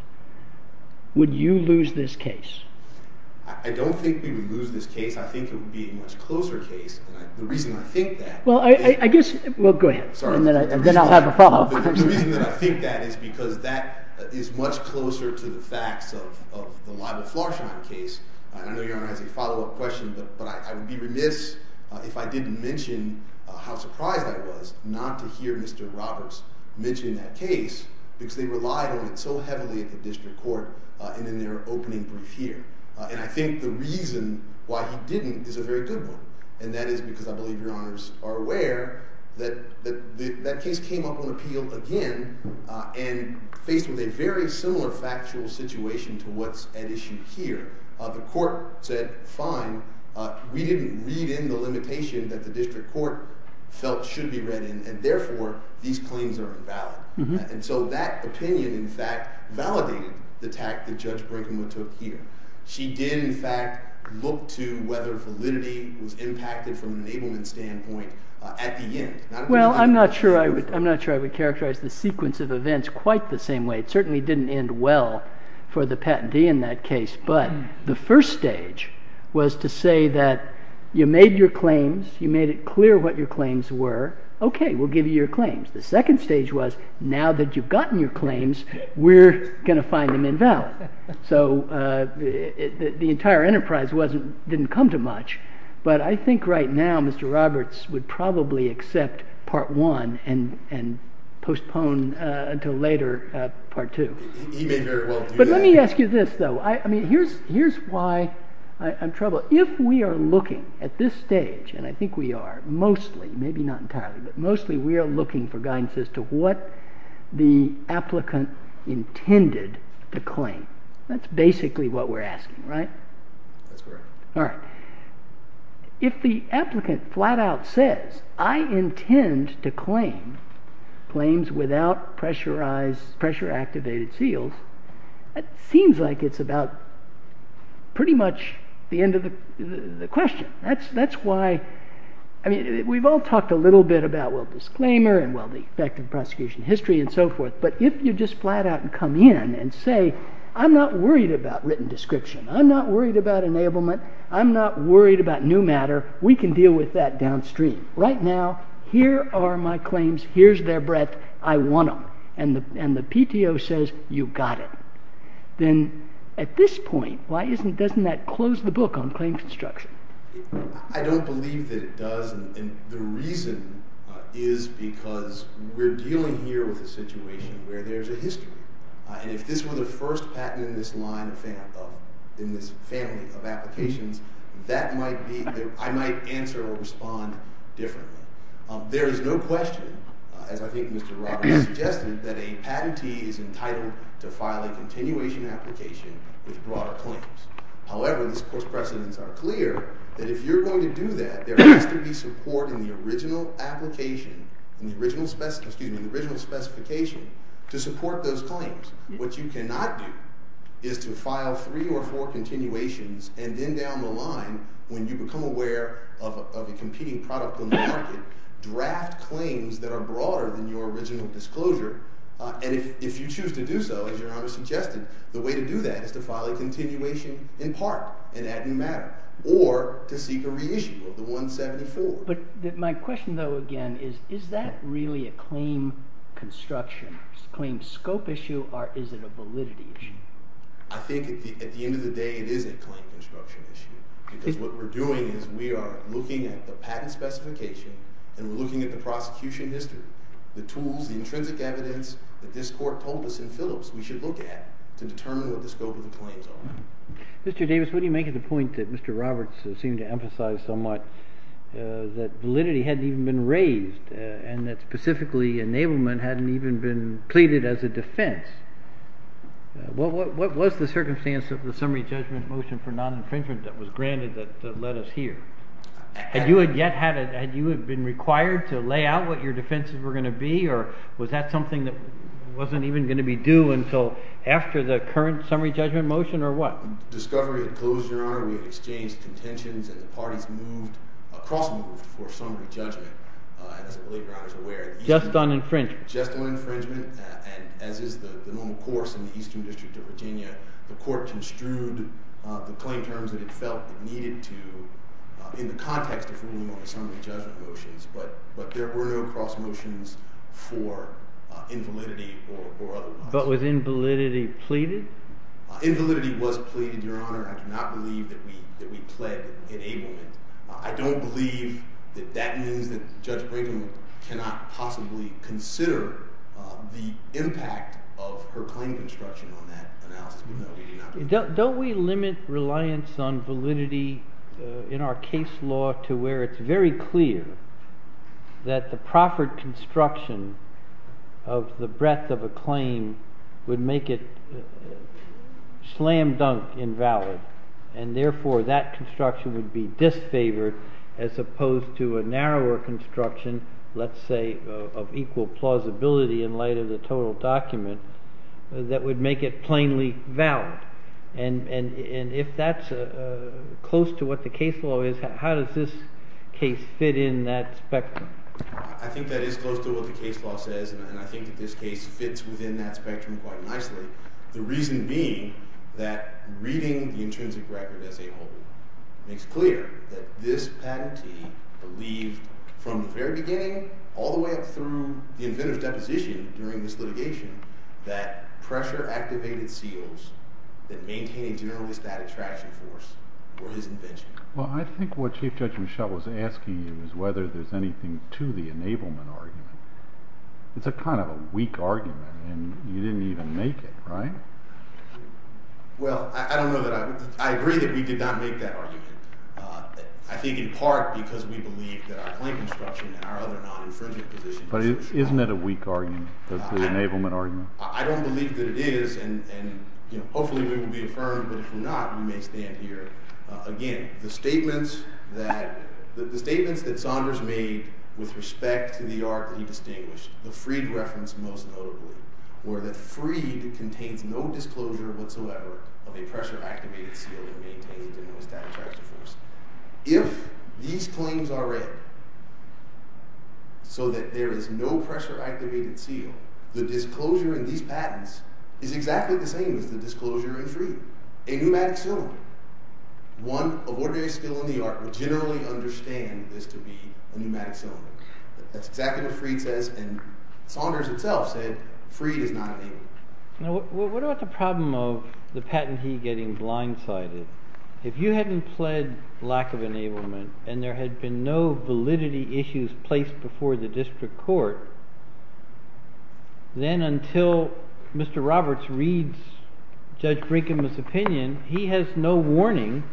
Would you lose this case? I don't think we would lose this case. I think it would be a much closer case. The reason I think that... Well, I guess... Well, go ahead. Sorry. And then I'll have a follow-up. The reason that I think that is because that is much closer to the facts of the Libel-Florsheim case. I know Your Honor has a follow-up question, but I would be remiss if I didn't mention how surprised I was not to hear Mr. Roberts mention that case because they relied on it so heavily at the district court and in their opening brief here. And I think the reason why he didn't is a very good one, and that is because I believe Your Honors are aware that that case came up on appeal again and faced with a very similar factual situation to what's at issue here. The court said, fine. We didn't read in the limitation that the district court felt should be read in, and therefore these claims are invalid. And so that opinion, in fact, validated the tact that Judge Brinkman took here. She did, in fact, look to whether validity was impacted from an enablement standpoint at the end. Well, I'm not sure I would characterize the sequence of events quite the same way. It certainly didn't end well for the patentee in that case, but the first stage was to say that you made your claims, you made it clear what your claims were, okay, we'll give you your claims. The second stage was now that you've gotten your claims, we're going to find them invalid. So the entire enterprise didn't come to much, but I think right now Mr. Roberts would probably accept part one and postpone until later part two. But let me ask you this, though. I mean, here's why I'm troubled. If we are looking at this stage, and I think we are mostly, maybe not entirely, but mostly we are looking for guidance as to what the applicant intended to claim. That's basically what we're asking, right? That's correct. All right. If the applicant flat-out says, I intend to claim claims without pressurized, pressure-activated seals, it seems like it's about pretty much the end of the question. That's why, I mean, we've all talked a little bit about, well, disclaimer, and well, the effect of prosecution history, and so forth. But if you just flat-out come in and say, I'm not worried about written description. I'm not worried about enablement. I'm not worried about new matter. We can deal with that downstream. Right now, here are my claims. Here's their breadth. I want them. And the PTO says, you've got it. Then at this point, why doesn't that close the book on claim construction? I don't believe that it does. And the reason is because we're dealing here with a situation where there's a history. And if this were the first patent in this family of applications, I might answer or respond differently. There is no question, as I think Mr. Roberts suggested, that a patentee is entitled to file a continuation application with broader claims. However, the course precedents are clear that if you're going to do that, there has to be support in the original application, in the original specification, to support those claims. What you cannot do is to file three or four continuations, and then down the line, when you become aware of a competing product on the market, draft claims that are broader than your original disclosure. And if you choose to do so, as Your Honor suggested, the way to do that is to file a continuation in part, and that didn't matter, or to seek a reissue of the 174. But my question, though, again, is, is that really a claim construction, claim scope issue, or is it a validity issue? I think at the end of the day it is a claim construction issue because what we're doing is we are looking at the patent specification and we're looking at the prosecution history, the tools, the intrinsic evidence that this court told us in Phillips we should look at to determine what the scope of the claims are. Mr. Davis, what do you make of the point that Mr. Roberts seemed to emphasize somewhat, that validity hadn't even been raised, and that specifically enablement hadn't even been pleaded as a defense? What was the circumstance of the summary judgment motion for non-infringement that was granted that led us here? Had you been required to lay out what your defenses were going to be, or was that something that wasn't even going to be due until after the current summary judgment motion, or what? The discovery had closed, Your Honor. We had exchanged contentions, and the parties moved, cross-moved for summary judgment, as I believe Your Honor is aware. Just on infringement? Just on infringement, and as is the normal course in the Eastern District of Virginia, the court construed the claim terms that it felt it needed to in the context of ruling on the summary judgment motions, but there were no cross-motions for invalidity or otherwise. But was invalidity pleaded? Invalidity was pleaded, Your Honor. I do not believe that we pled enablement. I don't believe that that means that Judge Brayden cannot possibly consider the impact of her claim construction on that analysis. Don't we limit reliance on validity in our case law to where it's very clear that the proffered construction of the breadth of a claim would make it slam-dunk invalid, and therefore that construction would be disfavored as opposed to a narrower construction, let's say of equal plausibility in light of the total document, that would make it plainly valid? And if that's close to what the case law is, how does this case fit in that spectrum? I think that is close to what the case law says, and I think that this case fits within that spectrum quite nicely, the reason being that reading the intrinsic record as a whole makes clear that this patentee believed from the very beginning all the way up through the inventor's deposition during this litigation that pressure-activated seals that maintain a generally static traction force were his invention. Well, I think what Chief Judge Michel was asking you is whether there's anything to the enablement argument. It's a kind of a weak argument, and you didn't even make it, right? Well, I agree that we did not make that argument. I think in part because we believe that our claim construction and our other non-inferential positions... But isn't it a weak argument, the enablement argument? I don't believe that it is, and hopefully we will be affirmed, but if we're not, we may stand here again. The statements that Saunders made with respect to the art he distinguished, the Freed reference most notably, were that Freed contains no disclosure whatsoever of a pressure-activated seal that maintains a generally static traction force. If these claims are read so that there is no pressure-activated seal, the disclosure in these patents is exactly the same as the disclosure in Freed. A pneumatic cylinder. One of ordinary skill in the art would generally understand this to be a pneumatic cylinder. That's exactly what Freed says, and Saunders itself said Freed is not enabled. Now, what about the problem of the patentee getting blindsided? If you hadn't pled lack of enablement, and there had been no validity issues placed before the district court, then until Mr. Roberts reads Judge Brinkman's opinion, he has no warning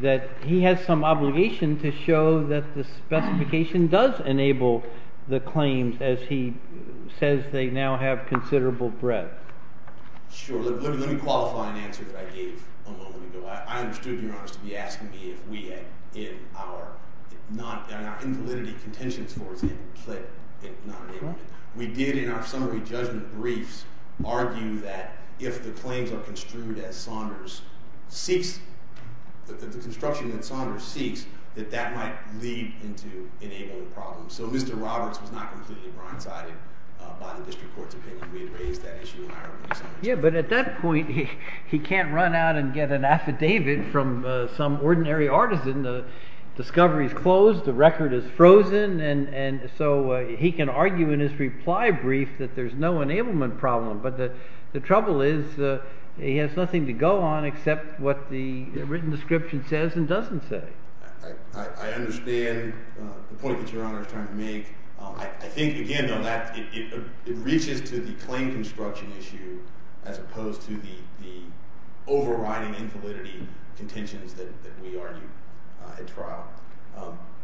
that he has some obligation to show that the specification does enable the claims as he says they now have considerable breadth. Sure. Let me qualify an answer that I gave a moment ago. I understood, if you're honest, to be asking me if we had, in our invalidity contentions, for example, we did in our summary judgment briefs argue that if the claims are construed as Saunders seeks, the construction that Saunders seeks, that that might lead into enabling problems. So Mr. Roberts was not completely blindsided by the district court's opinion. We had raised that issue in our early summaries. Yeah, but at that point, he can't run out and get an affidavit from some ordinary artisan. The discovery is closed. The record is frozen. And so he can argue in his reply brief that there's no enablement problem. But the trouble is he has nothing to go on except what the written description says and doesn't say. I understand the point that Your Honor is trying to make. I think, again, though, that it reaches to the claim construction issue as opposed to the overriding invalidity contentions that we argued at trial.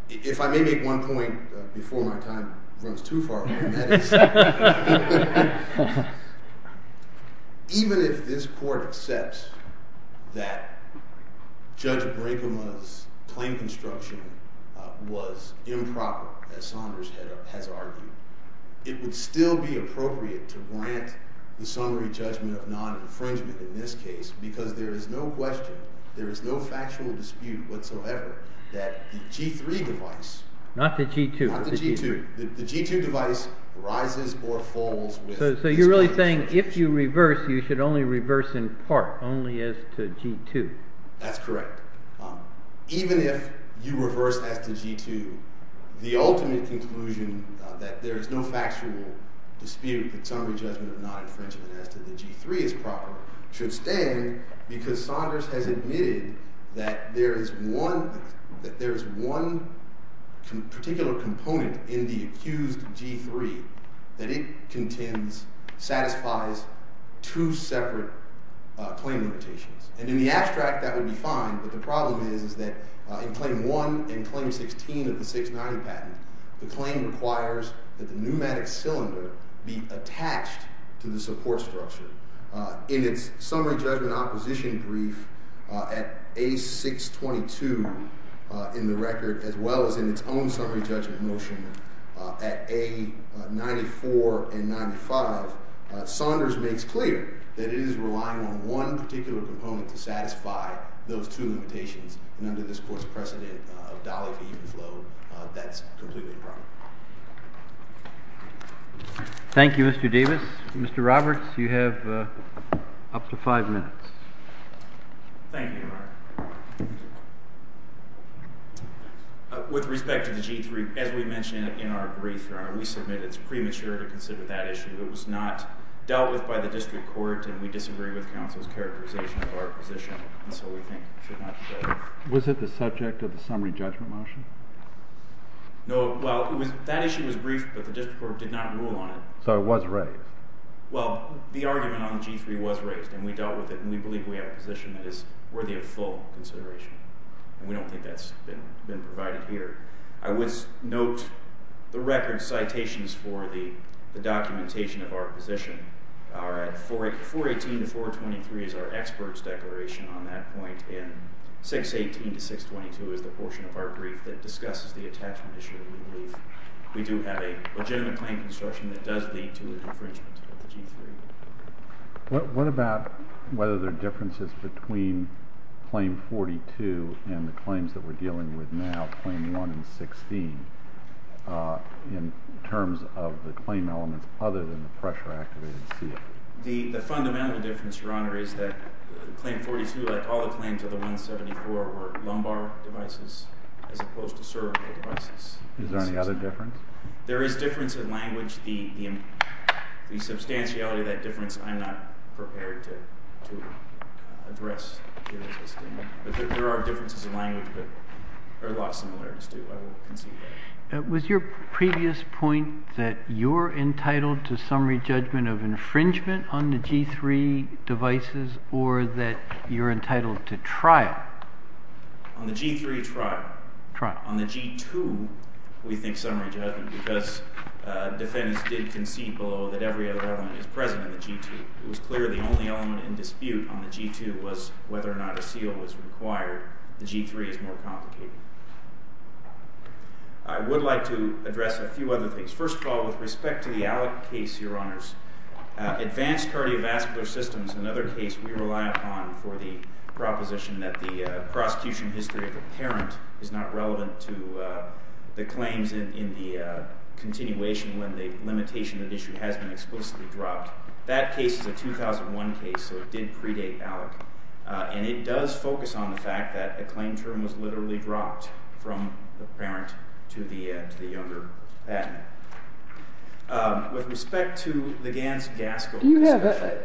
If I may make one point before my time runs too far, and that is even if this court accepts that Judge Brinkema's claim construction was improper, as Saunders has argued, it would still be appropriate to grant the summary judgment of non-infringement in this case because there is no question, there is no factual dispute whatsoever that the G-3 device— Not the G-2. Not the G-2. The G-2 device rises or falls with— So you're really saying if you reverse, you should only reverse in part, only as to G-2. That's correct. Even if you reverse as to G-2, the ultimate conclusion that there is no factual dispute that summary judgment of non-infringement as to the G-3 is proper should stand because Saunders has admitted that there is one particular component in the accused G-3 that it contends satisfies two separate claim limitations. And in the abstract, that would be fine, but the problem is that in Claim 1 and Claim 16 of the 690 patent, the claim requires that the pneumatic cylinder be attached to the support structure. In its summary judgment acquisition brief at A-622 in the record, as well as in its own summary judgment motion at A-94 and 95, Saunders makes clear that it is relying on one particular component to satisfy those two limitations. And under this Court's precedent of Dolly Fee and Flo, that's completely proper. Thank you, Mr. Davis. Mr. Roberts, you have up to five minutes. Thank you, Your Honor. With respect to the G-3, as we mentioned in our brief, Your Honor, we submit it's premature to consider that issue. It was not dealt with by the district court, and we disagree with counsel's characterization of our position. And so we think it should not be dealt with. Was it the subject of the summary judgment motion? No. Well, that issue was briefed, but the district court did not rule on it. So it was raised. Well, the argument on the G-3 was raised, and we dealt with it, and we believe we have a position that is worthy of full consideration. And we don't think that's been provided here. I would note the record citations for the documentation of our position. 418 to 423 is our expert's declaration on that point, and 618 to 622 is the portion of our brief that discusses the attachment issue. We do have a legitimate claim construction that does lead to a infringement of the G-3. What about whether there are differences between Claim 42 and the claims that we're dealing with now, Claim 1 and 16, in terms of the claim elements other than the pressure-activated seal? The fundamental difference, Your Honor, is that Claim 42, like all the claims of the 174, were lumbar devices as opposed to cervical devices. Is there any other difference? There is difference in language. The substantiality of that difference I'm not prepared to address here as a statement. There are differences in language, but there are a lot of similarities, too. Was your previous point that you're entitled to summary judgment of infringement on the G-3 devices or that you're entitled to trial? On the G-3, trial. On the G-2, we think summary judgment, because defendants did concede below that every other element is present on the G-2. It was clear the only element in dispute on the G-2 was whether or not a seal was required. The G-3 is more complicated. I would like to address a few other things. First of all, with respect to the Allick case, Your Honors, advanced cardiovascular systems, another case we rely upon for the proposition that the prosecution history of the parent is not relevant to the claims in the continuation when the limitation that issue has been explicitly dropped. That case is a 2001 case, so it did predate Allick. And it does focus on the fact that the claim term was literally dropped from the parent to the younger patent. With respect to the Ganz-Gaskell discussion...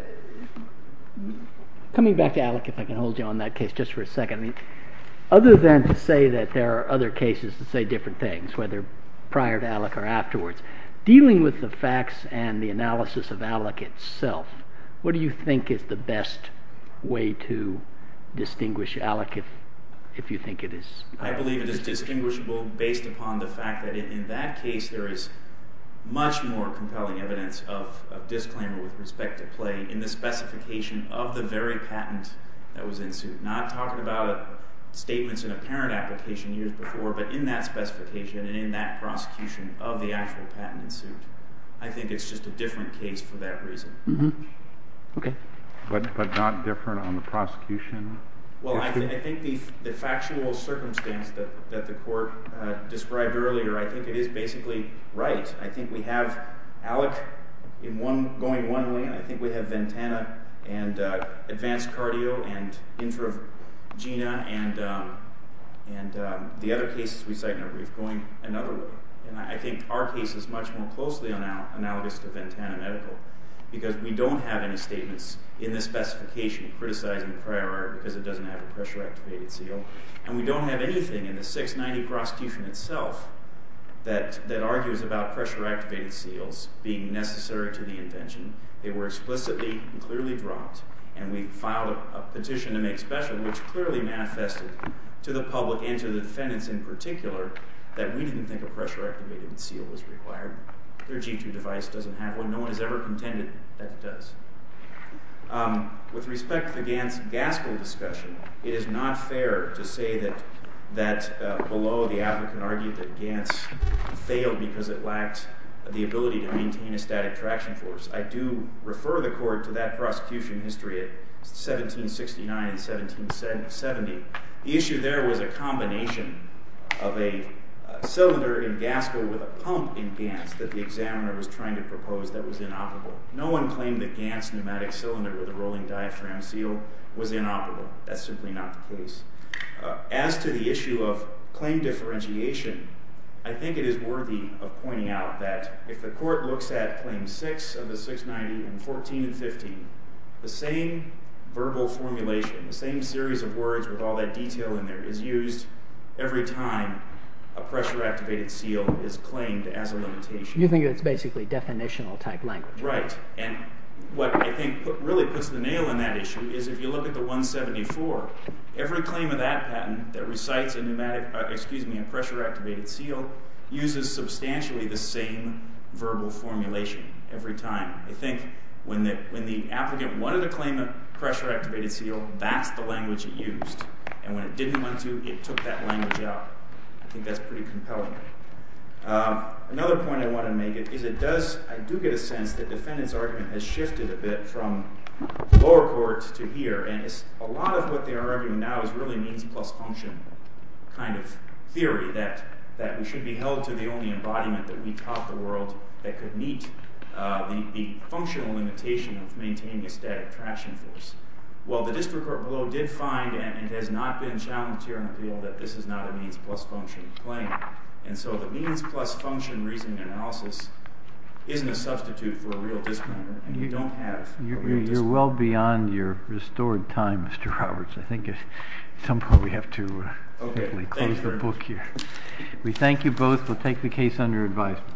Coming back to Allick, if I can hold you on that case just for a second. Other than to say that there are other cases that say different things, whether prior to Allick or afterwards, dealing with the facts and the analysis of Allick itself, what do you think is the best way to distinguish Allick, if you think it is? I believe it is distinguishable based upon the fact that in that case there is much more compelling evidence of disclaimer with respect to play in the specification of the very patent that was in suit. Not talking about statements in a parent application years before, but in that specification and in that prosecution of the actual patent in suit. I think it's just a different case for that reason. But not different on the prosecution? I think the factual circumstance that the court described earlier, I think it is basically right. I think we have Allick going one way, and I think we have Ventana and Advanced Cardio and Infra-Gena, Ventana and the other cases we cite in our brief going another way. I think our case is much more closely analogous to Ventana Medical, because we don't have any statements in this specification criticizing the prior art because it doesn't have a pressure-activated seal, and we don't have anything in the 690 prosecution itself that argues about pressure-activated seals being necessary to the invention. They were explicitly and clearly dropped, and we filed a petition to make special, which clearly manifested to the public and to the defendants in particular that we didn't think a pressure-activated seal was required. Their G2 device doesn't have one. No one has ever contended that it does. With respect to the Gantz-Gaskell discussion, it is not fair to say that below the applicant argued that Gantz failed because it lacked the ability to maintain a static traction force. I do refer the court to that prosecution history at 1769 and 1770. The issue there was a combination of a cylinder in Gaskell with a pump in Gantz that the examiner was trying to propose that was inoperable. No one claimed that Gantz pneumatic cylinder with a rolling diaphragm seal was inoperable. That's simply not the case. As to the issue of claim differentiation, I think it is worthy of pointing out that if the court looks at Patents 690 and 14 and 15, the same verbal formulation, the same series of words with all that detail in there, is used every time a pressure-activated seal is claimed as a limitation. You think it's basically definitional-type language. Right, and what I think really puts the nail in that issue is if you look at the 174, every claim of that patent that recites a pressure-activated seal uses substantially the same verbal formulation every time. I think when the applicant wanted to claim a pressure-activated seal, that's the language he used. And when it didn't want to, it took that language out. I think that's pretty compelling. Another point I want to make is I do get a sense that the defendant's argument has shifted a bit from lower court to here. A lot of what they are arguing now is really means-plus-function kind of theory that we should be held to the only embodiment that we taught the world that could meet the functional limitation of maintaining a static traction force. Well, the district court below did find, and it has not been challenged here in appeal, that this is not a means-plus-function claim. And so the means-plus-function reasoning analysis isn't a substitute for a real disclaimer, and you don't have a real disclaimer. You're well beyond your restored time, Mr. Roberts. I think at some point we have to simply close the book here. We thank you both. We'll take the case under advisement.